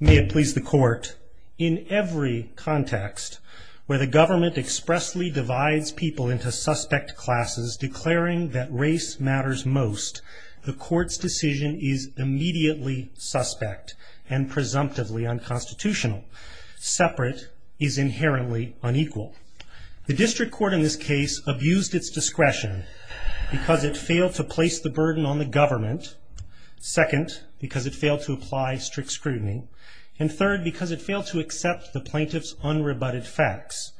May it please the court, in every context where the government expressly divides people into suspect classes declaring that race matters most, the court's decision is immediately suspect and presumptively unconstitutional. Separate is inherently unequal. The district court in this case abused its discretion because it failed to place the burden on the government. Second, because it failed to apply strict scrutiny. And third, because it failed to accept the plaintiff's unrebutted facts.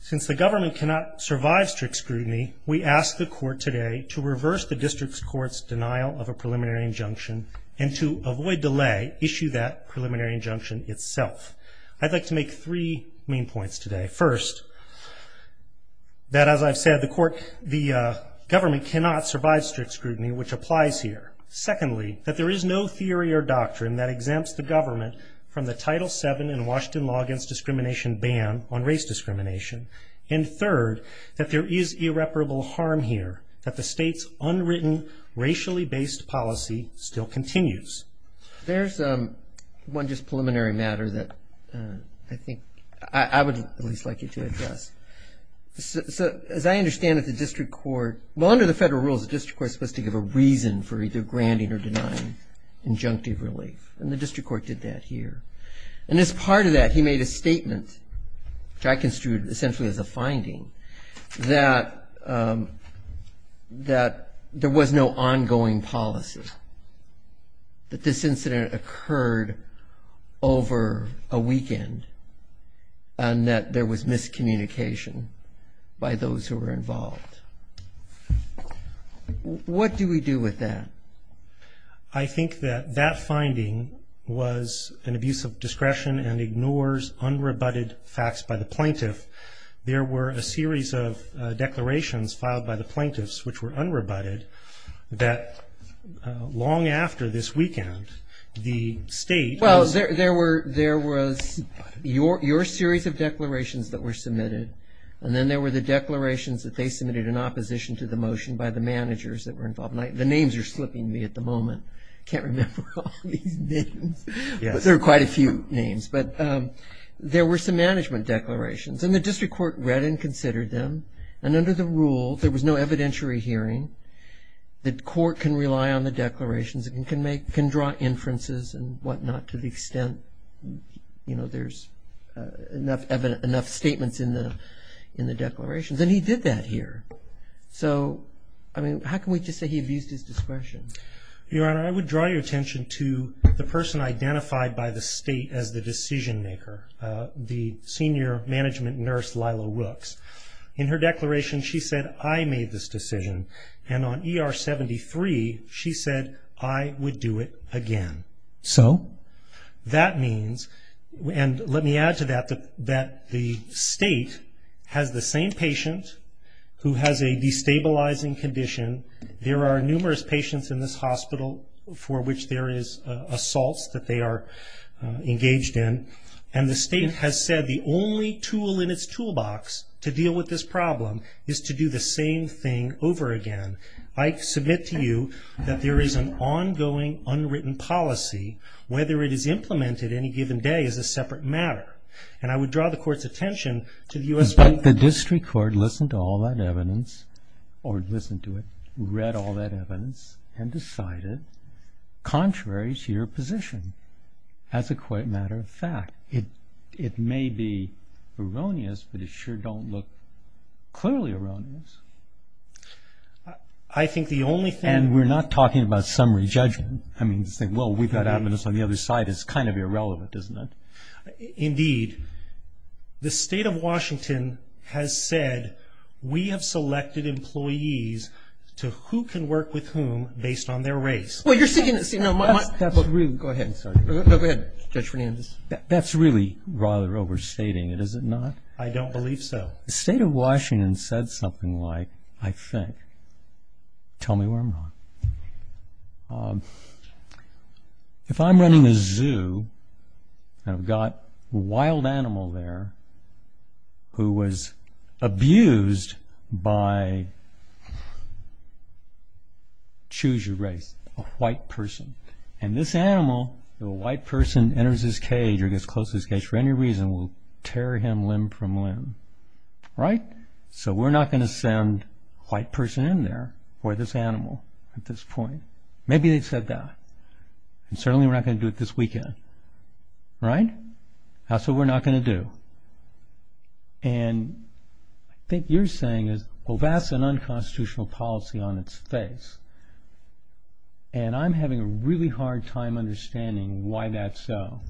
Since the government cannot survive strict scrutiny, we ask the court today to reverse the district court's denial of a preliminary injunction and to avoid delay, issue that preliminary injunction itself. I'd like to make three main points today. First, that as I've said, the government cannot survive strict scrutiny, which applies here. Secondly, that there is no theory or doctrine that exempts the government from the Title VII in Washington law against discrimination ban on race discrimination. And third, that there is irreparable harm here, that the state's unwritten racially based policy still continues. There's one just preliminary matter that I think I would at least like you to address. So as I understand it, the district court, well, under the federal rules, the district court is supposed to give a reason for either granting or denying injunctive relief. And the district court did that here. And as part of that, he made a statement, which I construed essentially as a finding, that there was no ongoing policy, that this incident occurred over a weekend, and that there was miscommunication by those who were involved. What do we do with that? I think that that finding was an abuse of discretion and ignores unrebutted facts by the plaintiff. There were a series of declarations filed by the plaintiffs, which were unrebutted, that long after this weekend, the state was… Well, there was your series of declarations that were submitted, and then there were the declarations that they submitted in opposition to the motion by the managers that were involved. The names are slipping me at the moment. I can't remember all these names, but there were quite a few names. But there were some management declarations, and the district court read and considered them. And under the rules, there was no evidentiary hearing. The court can rely on the declarations. It can draw inferences and whatnot to the extent there's enough statements in the declarations. And he did that here. So, I mean, how can we just say he abused his discretion? Your Honor, I would draw your attention to the person identified by the state as the decision maker, the senior management nurse, Lila Rooks. In her declaration, she said, I made this decision. And on ER 73, she said, I would do it again. So? That means, and let me add to that, that the state has the same patient who has a destabilizing condition. There are numerous patients in this hospital for which there is assaults that they are engaged in. And the state has said the only tool in its toolbox to deal with this problem is to do the same thing over again. I submit to you that there is an ongoing, unwritten policy. Whether it is implemented any given day is a separate matter. And I would draw the court's attention to the U.S. But the district court listened to all that evidence, or listened to it, read all that evidence, and decided contrary to your position as a matter of fact. It may be erroneous, but it sure don't look clearly erroneous. I think the only thing. And we're not talking about summary judgment. I mean, well, we've got evidence on the other side. It's kind of irrelevant, isn't it? Indeed. The state of Washington has said, we have selected employees to who can work with whom based on their race. Well, you're saying, you know. Go ahead. Go ahead, Judge Fernandez. That's really rather overstating it, is it not? I don't believe so. The state of Washington said something like, I think. Tell me where I'm wrong. If I'm running a zoo, and I've got a wild animal there who was abused by choose your race, a white person. And this animal, if a white person enters his cage or gets close to his cage for any reason, will tear him limb from limb. Right? So we're not going to send a white person in there for this animal at this point. Maybe they said that. And certainly we're not going to do it this weekend. Right? That's what we're not going to do. And I think you're saying, well, that's an unconstitutional policy on its face. And I'm having a really hard time understanding why that's so.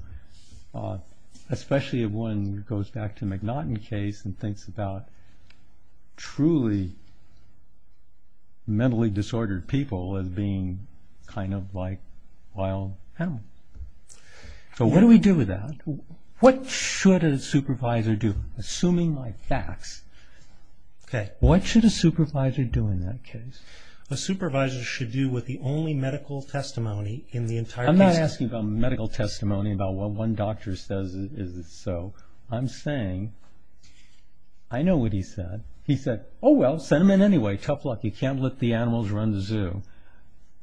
Especially when it goes back to the McNaughton case and thinks about truly mentally disordered people as being kind of like wild animals. So what do we do with that? What should a supervisor do? Assuming my facts. Okay. What should a supervisor do in that case? A supervisor should do with the only medical testimony in the entire case. I'm not asking about medical testimony, about what one doctor says is so. I'm saying, I know what he said. He said, oh, well, send him in anyway. Tough luck. You can't let the animals run the zoo.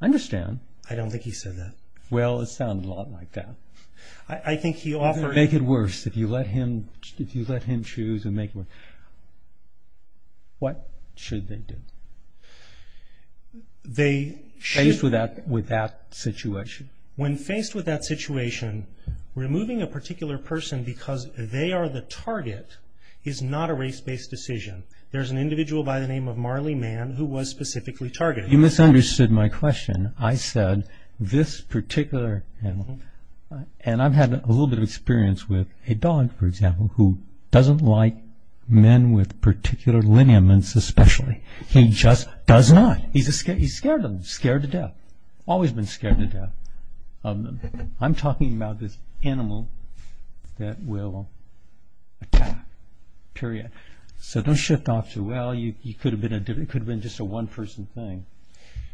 I understand. I don't think he said that. Well, it sounded a lot like that. I think he offered. Make it worse. If you let him choose and make it worse. What should they do? They should. Faced with that situation. When faced with that situation, removing a particular person because they are the target is not a race-based decision. There's an individual by the name of Marley Mann who was specifically targeted. You misunderstood my question. I said this particular animal, and I've had a little bit of experience with a dog, for example, who doesn't like men with particular lineaments especially. He just does not. He's scared of them. Scared to death. Always been scared to death of them. I'm talking about this animal that will attack, period. So don't shift off to, well, it could have been just a one-person thing.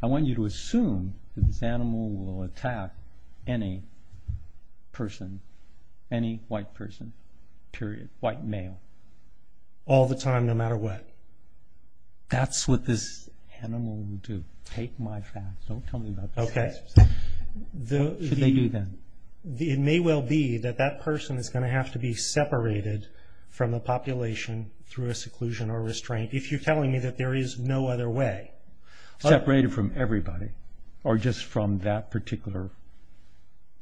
I want you to assume that this animal will attack any person, any white person, period, white male. All the time, no matter what. That's what this animal will do. Take my facts. Don't tell me about this. Okay. What should they do then? It may well be that that person is going to have to be separated from the population through a seclusion or restraint if you're telling me that there is no other way. Separated from everybody or just from that particular,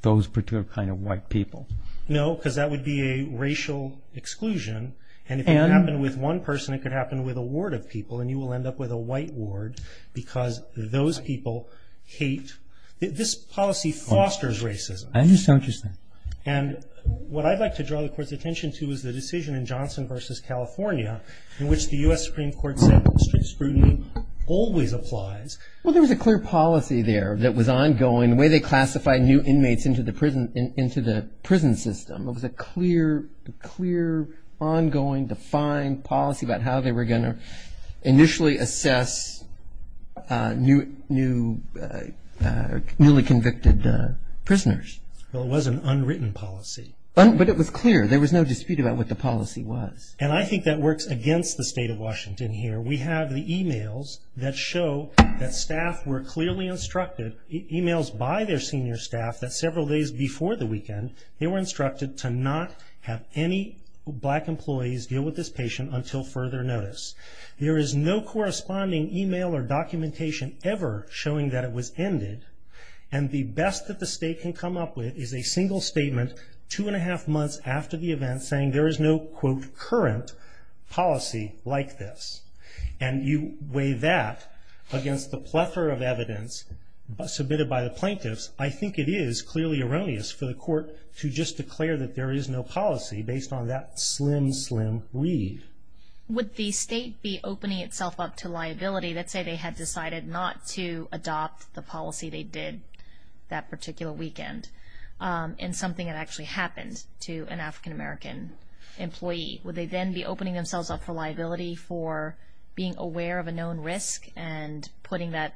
those particular kind of white people? No, because that would be a racial exclusion, and if it happened with one person, it could happen with a ward of people, and you will end up with a white ward because those people hate. This policy fosters racism. I understand what you're saying. And what I'd like to draw the Court's attention to is the decision in Johnson v. California in which the U.S. Supreme Court said strict scrutiny always applies. Well, there was a clear policy there that was ongoing, the way they classified new inmates into the prison system. It was a clear, ongoing, defined policy about how they were going to initially assess newly convicted prisoners. Well, it was an unwritten policy. But it was clear. There was no dispute about what the policy was. And I think that works against the state of Washington here. We have the e-mails that show that staff were clearly instructed, e-mails by their senior staff, that several days before the weekend they were instructed to not have any black employees deal with this patient until further notice. There is no corresponding e-mail or documentation ever showing that it was ended, and the best that the state can come up with is a single statement two and a half months after the event saying there is no, quote, current policy like this. And you weigh that against the plethora of evidence submitted by the plaintiffs, I think it is clearly erroneous for the Court to just declare that there is no policy based on that slim, slim read. Would the state be opening itself up to liability? Let's say they had decided not to adopt the policy they did that particular weekend in something that actually happened to an African-American employee. Would they then be opening themselves up for liability for being aware of a known risk and putting that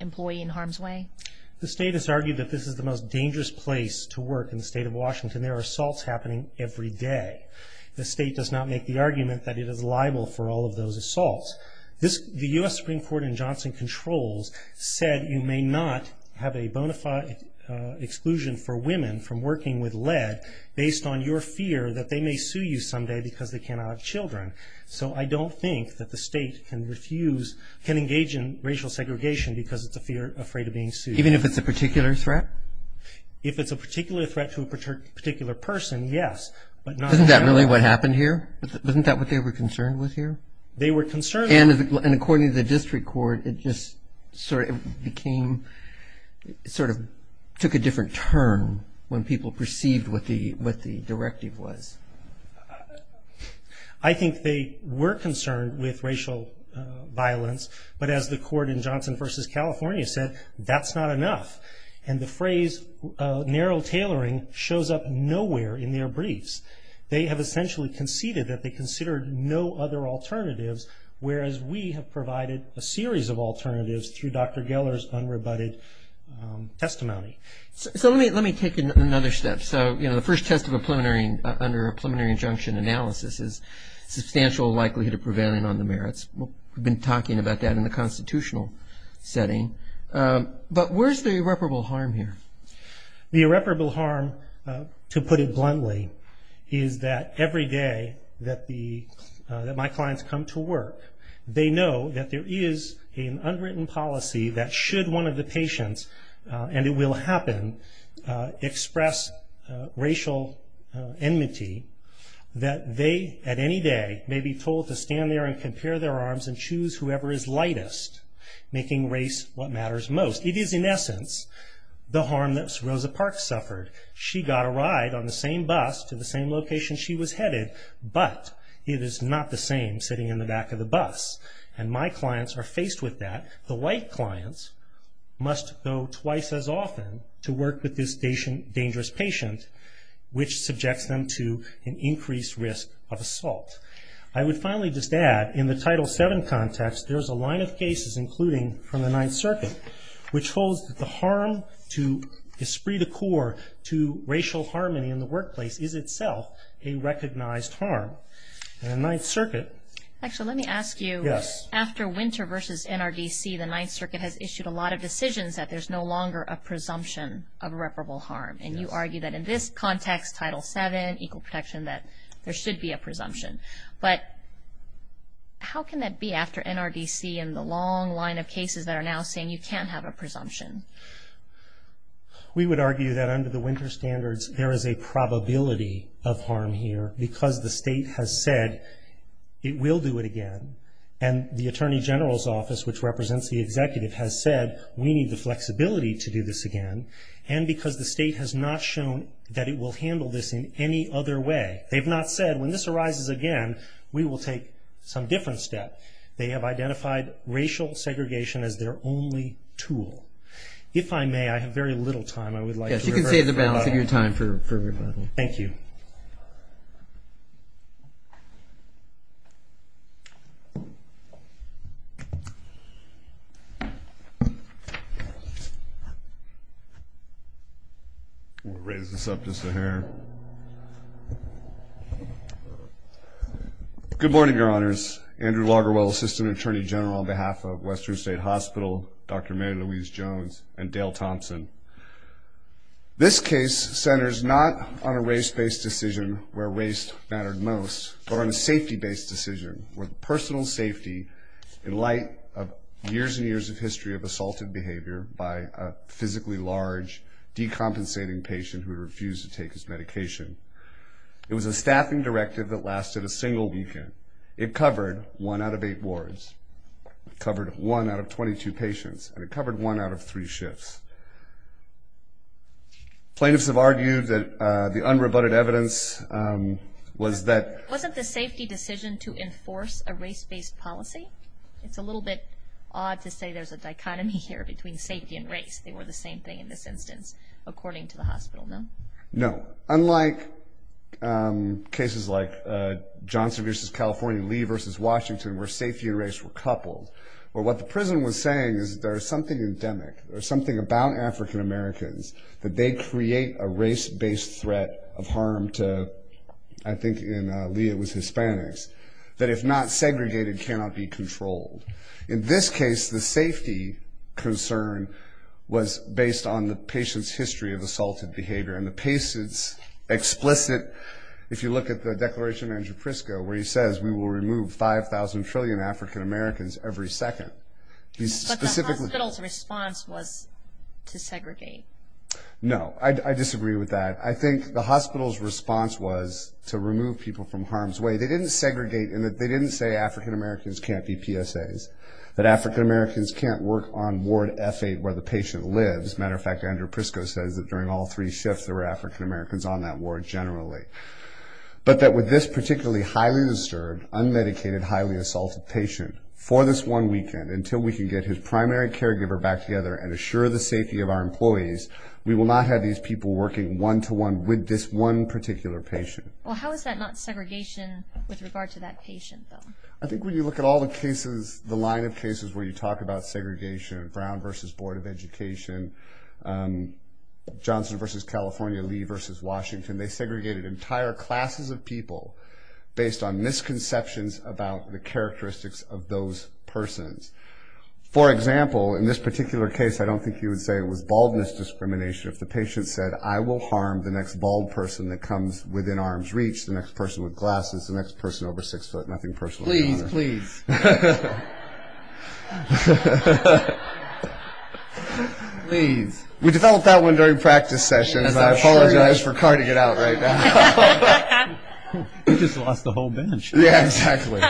employee in harm's way? The state has argued that this is the most dangerous place to work in the state of Washington. There are assaults happening every day. The state does not make the argument that it is liable for all of those assaults. The U.S. Supreme Court in Johnson Controls said you may not have a bona fide exclusion for women from working with lead based on your fear that they may sue you someday because they cannot have children. So I don't think that the state can refuse, can engage in racial segregation because it's afraid of being sued. Even if it's a particular threat? If it's a particular threat to a particular person, yes. Isn't that really what happened here? Isn't that what they were concerned with here? They were concerned. And according to the district court, it just sort of became, it sort of took a different turn when people perceived what the directive was. I think they were concerned with racial violence, but as the court in Johnson v. California said, that's not enough. And the phrase narrow tailoring shows up nowhere in their briefs. They have essentially conceded that they considered no other alternatives, whereas we have provided a series of alternatives through Dr. Geller's unrebutted testimony. So let me take another step. So, you know, the first test of a preliminary, under a preliminary injunction analysis is substantial likelihood of prevailing on the merits. We've been talking about that in the constitutional setting. But where's the irreparable harm here? The irreparable harm, to put it bluntly, is that every day that my clients come to work, they know that there is an unwritten policy that should one of the patients, and it will happen, express racial enmity, that they at any day may be told to stand there and compare their arms and choose whoever is lightest, making race what matters most. It is, in essence, the harm that Rosa Parks suffered. She got a ride on the same bus to the same location she was headed, but it is not the same sitting in the back of the bus. And my clients are faced with that. The white clients must go twice as often to work with this dangerous patient, which subjects them to an increased risk of assault. I would finally just add, in the Title VII context, there is a line of cases, including from the Ninth Circuit, which holds that the harm to esprit de corps, to racial harmony in the workplace, is itself a recognized harm. And the Ninth Circuit- Actually, let me ask you. Yes. After Winter v. NRDC, the Ninth Circuit has issued a lot of decisions that there's no longer a presumption of irreparable harm. And you argue that in this context, Title VII, equal protection, that there should be a presumption. But how can that be after NRDC and the long line of cases that are now saying you can't have a presumption? We would argue that under the Winter standards, there is a probability of harm here because the state has said it will do it again. And the Attorney General's Office, which represents the executive, has said we need the flexibility to do this again, and because the state has not shown that it will handle this in any other way. They've not said, when this arises again, we will take some different step. They have identified racial segregation as their only tool. If I may, I have very little time. I would like to- Yes, you can save the balance of your time for rebuttal. Thank you. We'll raise this up just a hair. Good morning, Your Honors. Andrew Lagerwell, Assistant Attorney General on behalf of Western State Hospital, Dr. Mary Louise Jones, and Dale Thompson. This case centers not on a race-based decision where race mattered most, but on a safety-based decision where personal safety, in light of years and years of history of assaulted behavior by a physically large, decompensating patient who refused to take his medication. It was a staffing directive that lasted a single weekend. It covered one out of eight wards. It covered one out of 22 patients, and it covered one out of three shifts. Plaintiffs have argued that the unrebutted evidence was that- Wasn't the safety decision to enforce a race-based policy? It's a little bit odd to say there's a dichotomy here between safety and race. They were the same thing in this instance, according to the hospital, no? No. Unlike cases like Johnson v. California, Lee v. Washington, where safety and race were coupled, where what the prison was saying is there's something endemic, there's something about African Americans that they create a race-based threat of harm to- I think in Lee it was Hispanics- that if not segregated, cannot be controlled. In this case, the safety concern was based on the patient's history of assaulted behavior, and the patient's explicit- If you look at the Declaration of Andrew Prisco, where he says, we will remove 5,000 trillion African Americans every second. But the hospital's response was to segregate. No, I disagree with that. I think the hospital's response was to remove people from harm's way. They didn't segregate in that they didn't say African Americans can't be PSAs, that African Americans can't work on Ward F8 where the patient lives. As a matter of fact, Andrew Prisco says that during all three shifts, there were African Americans on that ward generally. But that with this particularly highly disturbed, unmedicated, highly assaulted patient, for this one weekend, until we can get his primary caregiver back together and assure the safety of our employees, we will not have these people working one-to-one with this one particular patient. Well, how is that not segregation with regard to that patient, though? I think when you look at all the cases, the line of cases where you talk about segregation, Brown v. Board of Education, Johnson v. California, Lee v. Washington, they segregated entire classes of people based on misconceptions about the characteristics of those persons. For example, in this particular case, I don't think you would say it was baldness discrimination if the patient said, I will harm the next bald person that comes within arm's reach, the next person with glasses, the next person over six foot, nothing personal. Please, please. We developed that one during practice sessions. I apologize for carting it out right now. You just lost the whole bench. Yeah, exactly.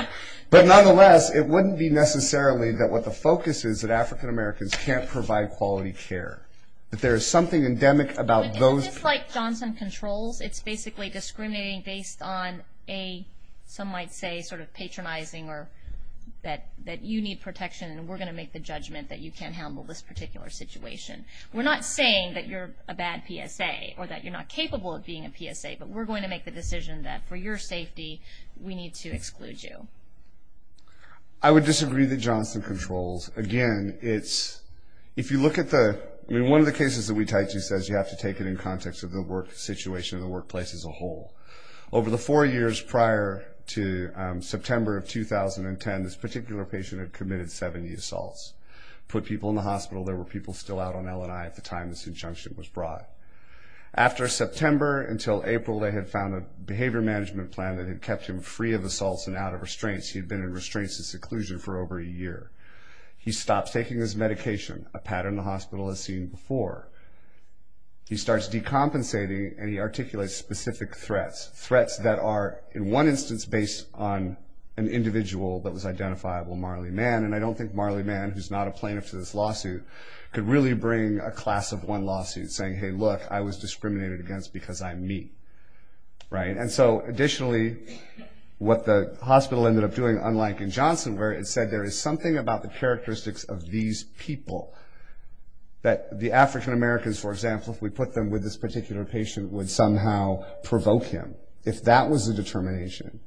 But nonetheless, it wouldn't be necessarily that what the focus is that African Americans can't provide quality care, that there is something endemic about those. It's just like Johnson controls. It's basically discriminating based on a, some might say, sort of patronizing or that you need protection and we're going to make the judgment that you can't handle this particular situation. We're not saying that you're a bad PSA or that you're not capable of being a PSA, but we're going to make the decision that for your safety, we need to exclude you. I would disagree that Johnson controls. Again, it's, if you look at the, I mean, one of the cases that we tied to says you have to take it in context of the work situation, the workplace as a whole. Over the four years prior to September of 2010, this particular patient had committed 70 assaults, put people in the hospital. There were people still out on LNI at the time this injunction was brought. After September until April, they had found a behavior management plan that had kept him free of assaults and out of restraints. He had been in restraints and seclusion for over a year. He stopped taking his medication, a pattern the hospital has seen before. He starts decompensating and he articulates specific threats, threats that are, in one instance, based on an individual that was identifiable, Marley Mann, and I don't think Marley Mann, who's not a plaintiff to this lawsuit, could really bring a class of one lawsuit, saying, hey, look, I was discriminated against because I'm me, right? And so, additionally, what the hospital ended up doing, unlike in Johnson, where it said there is something about the characteristics of these people that the African-Americans, for example, if we put them with this particular patient, would somehow provoke him. If that was the determination,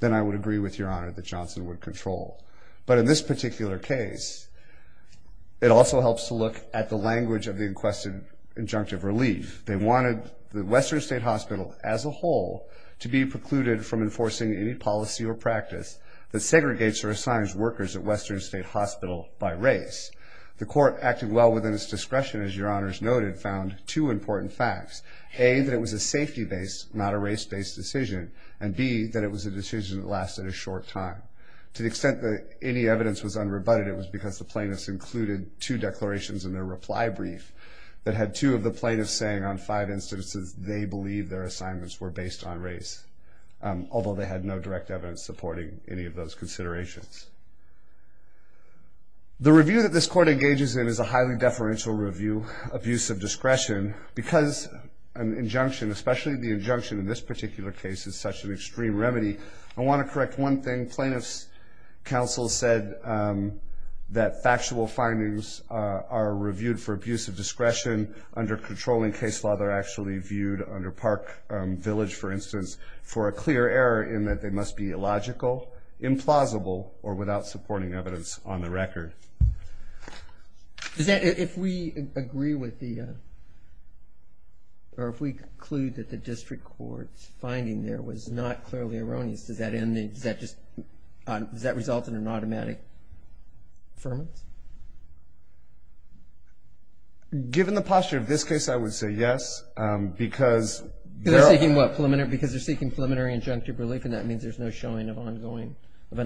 then I would agree with Your Honor that Johnson would control. But in this particular case, it also helps to look at the language of the inquested injunctive relief. They wanted the Western State Hospital, as a whole, to be precluded from enforcing any policy or practice that segregates or assigns workers at Western State Hospital by race. The court, acting well within its discretion, as Your Honors noted, found two important facts. A, that it was a safety-based, not a race-based decision, and B, that it was a decision that lasted a short time. To the extent that any evidence was unrebutted, it was because the plaintiffs included two declarations in their reply brief that had two of the plaintiffs saying on five instances they believed their assignments were based on race, although they had no direct evidence supporting any of those considerations. The review that this court engages in is a highly deferential review of use of discretion because an injunction, especially the injunction in this particular case, is such an extreme remedy. I want to correct one thing. Plaintiffs' counsel said that factual findings are reviewed for abuse of discretion. Under controlling case law, they're actually viewed, under Park Village, for instance, for a clear error in that they must be illogical, implausible, or without supporting evidence on the record. If we agree with the... or if we conclude that the district court's finding there is not clearly erroneous, does that result in an automatic affirmance? Given the posture of this case, I would say yes, because... Because they're seeking what? Because they're seeking preliminary injunctive relief and that means there's no showing of an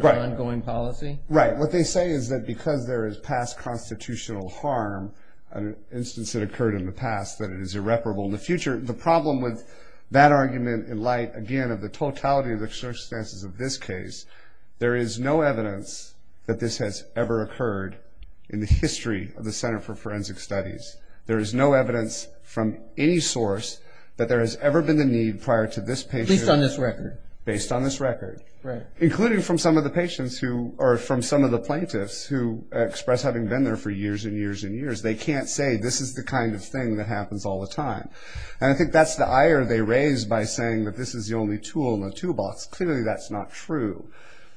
ongoing policy? Right. What they say is that because there is past constitutional harm, an instance that occurred in the past, that it is irreparable in the future. The problem with that argument, in light, again, of the totality of the circumstances of this case, there is no evidence that this has ever occurred in the history of the Center for Forensic Studies. There is no evidence from any source that there has ever been the need prior to this patient... Based on this record. Based on this record. Right. Including from some of the patients who... or from some of the plaintiffs who express having been there for years and years and years. They can't say, this is the kind of thing that happens all the time. And I think that's the ire they raise by saying that this is the only tool in the toolbox. Clearly, that's not true.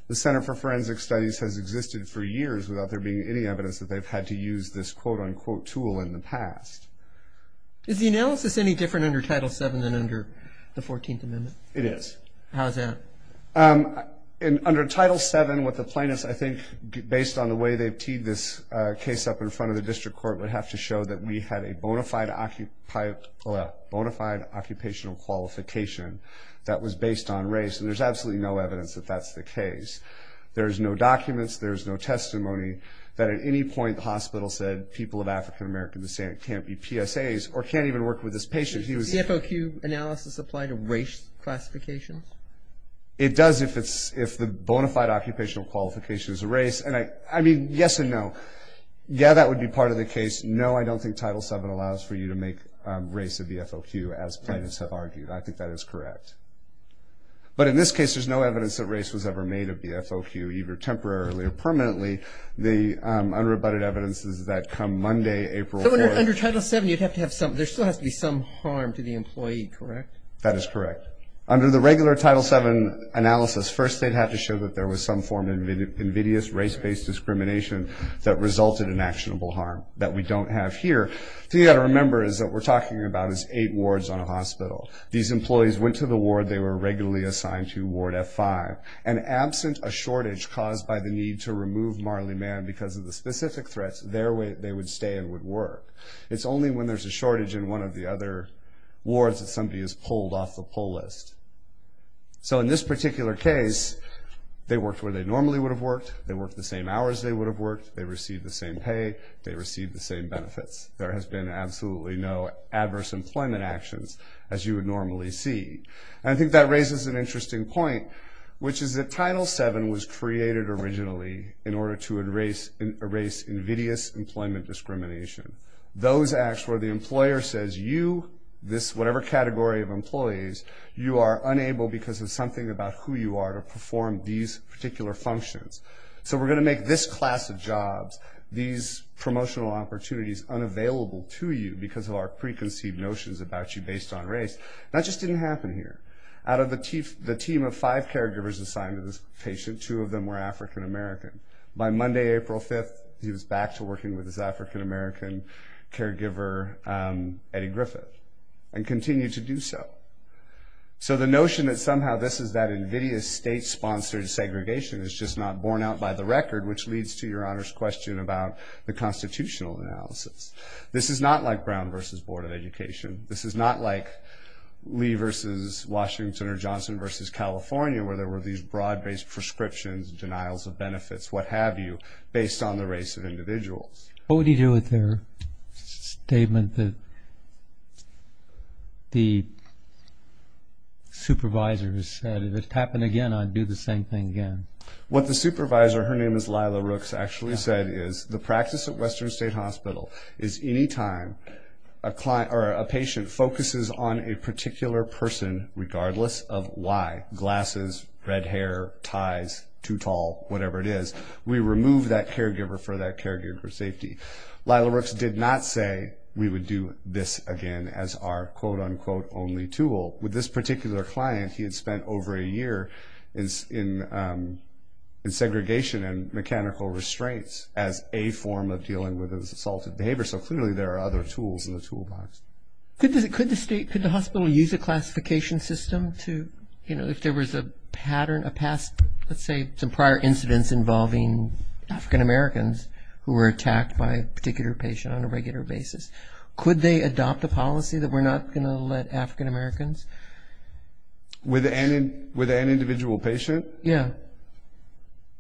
The Center for Forensic Studies has existed for years without there being any evidence that they've had to use this quote-unquote tool in the past. Is the analysis any different under Title VII than under the 14th Amendment? It is. How is that? Under Title VII, what the plaintiffs, I think, based on the way they've teed this case up in front of the district court would have to show that we had a bona fide occupational qualification that was based on race. And there's absolutely no evidence that that's the case. There's no documents. There's no testimony that at any point the hospital said people of African-American descent can't be PSAs or can't even work with this patient. Does the CFOQ analysis apply to race classifications? It does if the bona fide occupational qualification is a race. And I mean, yes and no. Yeah, that would be part of the case. No, I don't think Title VII allows for you to make race a BFOQ, as plaintiffs have argued. I think that is correct. But in this case, there's no evidence that race was ever made a BFOQ, either temporarily or permanently. The unrebutted evidence is that come Monday, April 4th. So under Title VII, there still has to be some harm to the employee, correct? That is correct. Under the regular Title VII analysis, first they'd have to show that there was some form of invidious race-based discrimination that resulted in actionable harm that we don't have here. The thing you've got to remember is that what we're talking about is eight wards on a hospital. These employees went to the ward they were regularly assigned to, Ward F5, and absent a shortage caused by the need to remove Marley Mann because of the specific threats, they would stay and would work. It's only when there's a shortage in one of the other wards that somebody is pulled off the pull list. So in this particular case, they worked where they normally would have worked, they worked the same hours they would have worked, they received the same pay, they received the same benefits. There has been absolutely no adverse employment actions as you would normally see. I think that raises an interesting point, which is that Title VII was created originally in order to erase invidious employment discrimination. Those acts where the employer says, you, this whatever category of employees, you are unable because of something about who you are to perform these particular functions. So we're going to make this class of jobs, these promotional opportunities unavailable to you because of our preconceived notions about you based on race. That just didn't happen here. Out of the team of five caregivers assigned to this patient, two of them were African American. By Monday, April 5th, he was back to working with his African American caregiver, Eddie Griffith, and continued to do so. So the notion that somehow this is that invidious state-sponsored segregation is just not borne out by the record, which leads to Your Honor's question about the constitutional analysis. This is not like Brown v. Board of Education. This is not like Lee v. Washington or Johnson v. California where there were these broad-based prescriptions, based on the race of individuals. What would you do with the statement that the supervisor said, if it happened again, I'd do the same thing again? What the supervisor, her name is Lila Rooks, actually said is the practice at Western State Hospital is any time a patient focuses on a particular person, regardless of why, glasses, red hair, ties, too tall, whatever it is, we remove that caregiver for that caregiver safety. Lila Rooks did not say we would do this again as our quote-unquote only tool. With this particular client, he had spent over a year in segregation and mechanical restraints as a form of dealing with his assaulted behavior. So clearly there are other tools in the toolbox. Could the hospital use a classification system to, if there was a pattern, a past, let's say, some prior incidents involving African-Americans who were attacked by a particular patient on a regular basis, could they adopt a policy that we're not going to let African-Americans? With an individual patient? Yeah.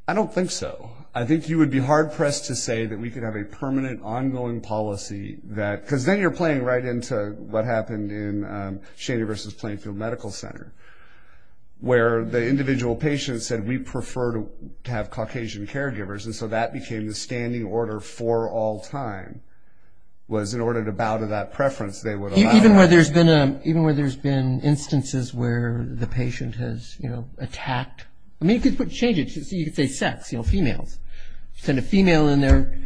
I don't think so. I think you would be hard-pressed to say that we could have a permanent, ongoing policy that, because then you're playing right into what happened in Shady versus Plainfield Medical Center, where the individual patient said, we prefer to have Caucasian caregivers, and so that became the standing order for all time, was in order to bow to that preference they would allow. Even where there's been instances where the patient has, you know, attacked, I mean, you could change it. You could say sex, you know, females. Send a female in there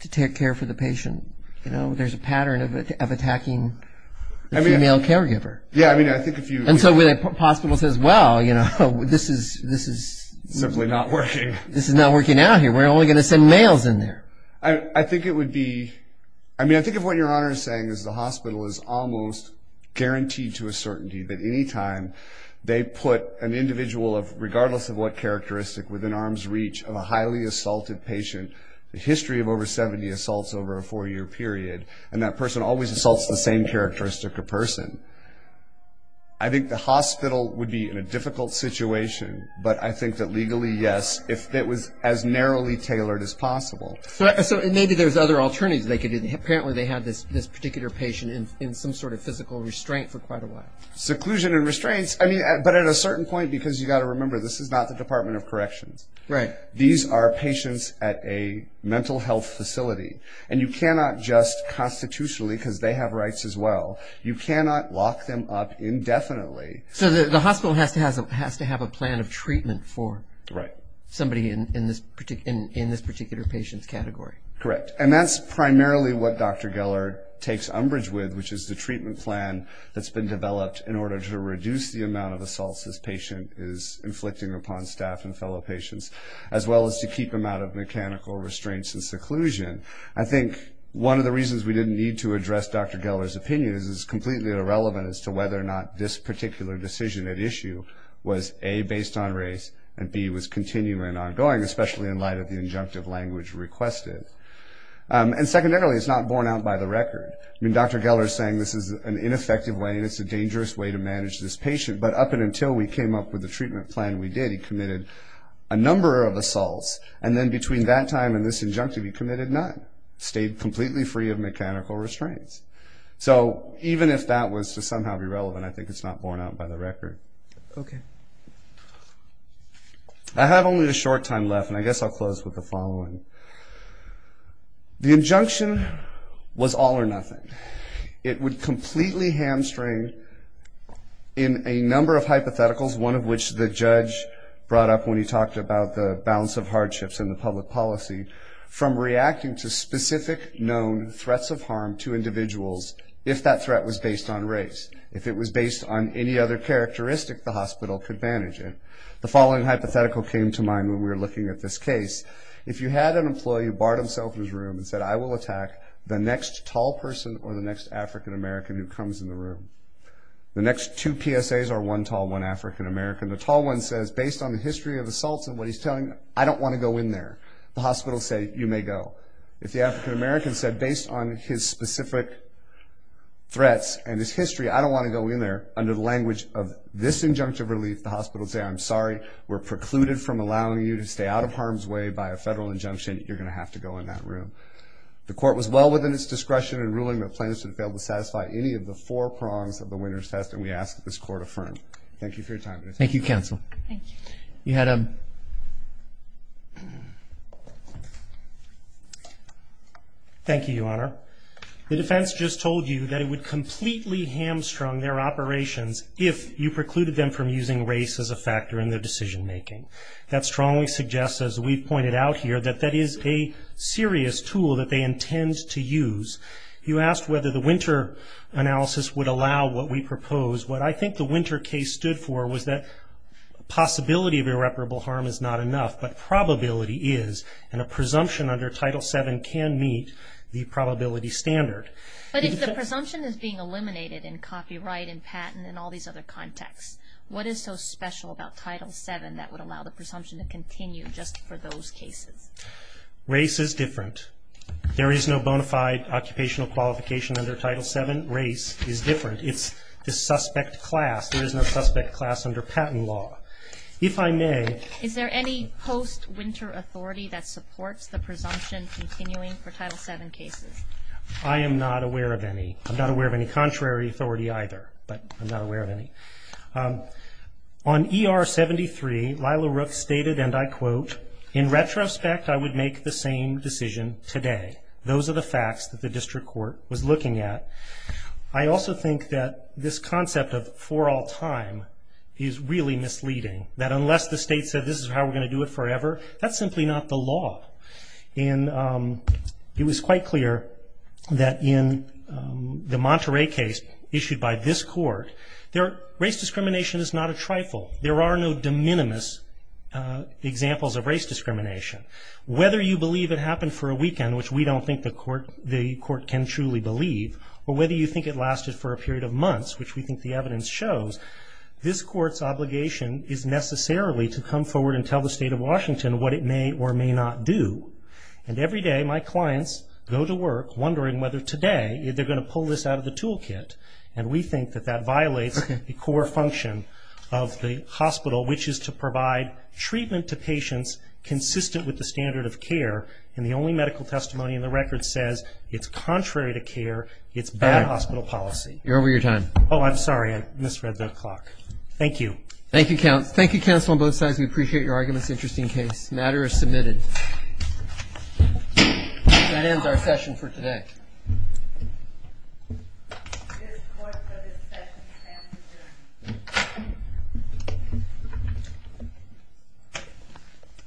to take care for the patient. You know, there's a pattern of attacking the female caregiver. Yeah, I mean, I think if you... And so the hospital says, well, you know, this is... Simply not working. This is not working out here. We're only going to send males in there. I think it would be, I mean, I think of what Your Honor is saying, is the hospital is almost guaranteed to a certainty that any time they put an individual of, regardless of what characteristic, within arm's reach of a highly assaulted patient, the history of over 70 assaults over a four-year period, and that person always assaults the same characteristic of person, I think the hospital would be in a difficult situation, but I think that legally, yes, if it was as narrowly tailored as possible. So maybe there's other alternatives they could do. Apparently they had this particular patient in some sort of physical restraint for quite a while. Seclusion and restraints, I mean, but at a certain point, because you've got to remember, this is not the Department of Corrections. Right. These are patients at a mental health facility, and you cannot just constitutionally, because they have rights as well, you cannot lock them up indefinitely. So the hospital has to have a plan of treatment for somebody in this particular patient's category. Correct, and that's primarily what Dr. Geller takes umbrage with, which is the treatment plan that's been developed in order to reduce the amount of assaults this patient is inflicting upon staff and fellow patients, as well as to keep them out of mechanical restraints and seclusion. I think one of the reasons we didn't need to address Dr. Geller's opinion is it's completely irrelevant as to whether or not this particular decision at issue was A, based on race, and B, was continuing and ongoing, especially in light of the injunctive language requested. And secondarily, it's not borne out by the record. I mean, Dr. Geller is saying this is an ineffective way, and it's a dangerous way to manage this patient, but up until we came up with the treatment plan we did, he committed a number of assaults, and then between that time and this injunctive he committed none, stayed completely free of mechanical restraints. So even if that was to somehow be relevant, I think it's not borne out by the record. Okay. I have only a short time left, and I guess I'll close with the following. The injunction was all or nothing. It would completely hamstring in a number of hypotheticals, one of which the judge brought up when he talked about the balance of hardships in the public policy, from reacting to specific known threats of harm to individuals if that threat was based on race, if it was based on any other characteristic the hospital could manage it. The following hypothetical came to mind when we were looking at this case. If you had an employee who barred himself in his room and said, I will attack the next tall person or the next African American who comes in the room, the next two PSAs are one tall, one African American. The tall one says, based on the history of assaults and what he's telling, I don't want to go in there. The hospital will say, you may go. If the African American said, based on his specific threats and his history, I don't want to go in there, under the language of this injunctive relief, the hospital will say, I'm sorry, we're precluded from allowing you to stay out of harm's way by a federal injunction. You're going to have to go in that room. The court was well within its discretion in ruling that plaintiffs should fail to satisfy any of the four prongs of the winner's test, and we ask that this court affirm. Thank you for your time. Thank you, counsel. Thank you. Thank you, Your Honor. The defense just told you that it would completely hamstrung their operations if you precluded them from using race as a factor in their decision making. That strongly suggests, as we've pointed out here, that that is a serious tool that they intend to use. You asked whether the winter analysis would allow what we propose. What I think the winter case stood for was that possibility of irreparable harm is not enough, but probability is, and a presumption under Title VII can meet the probability standard. But if the presumption is being eliminated in copyright and patent and all these other contexts, what is so special about Title VII that would allow the presumption to continue just for those cases? Race is different. There is no bona fide occupational qualification under Title VII. Race is different. It's the suspect class. There is no suspect class under patent law. If I may. Is there any post-winter authority that supports the presumption continuing for Title VII cases? I am not aware of any. I'm not aware of any contrary authority either, but I'm not aware of any. On ER 73, Lila Rook stated, and I quote, in retrospect I would make the same decision today. Those are the facts that the district court was looking at. I also think that this concept of for all time is really misleading, that unless the state said this is how we're going to do it forever, that's simply not the law. And it was quite clear that in the Monterey case issued by this court, race discrimination is not a trifle. There are no de minimis examples of race discrimination. Whether you believe it happened for a weekend, which we don't think the court can truly believe, or whether you think it lasted for a period of months, which we think the evidence shows, this court's obligation is necessarily to come forward and tell the state of Washington what it may or may not do. And every day my clients go to work wondering whether today they're going to pull this out of the toolkit. And we think that that violates the core function of the hospital, which is to provide treatment to patients consistent with the standard of care. And the only medical testimony in the record says it's contrary to care, it's bad hospital policy. You're over your time. Oh, I'm sorry. I misread the clock. Thank you. Thank you, counsel. Thank you, counsel on both sides. We appreciate your arguments. Interesting case. Matter is submitted. That ends our session for today.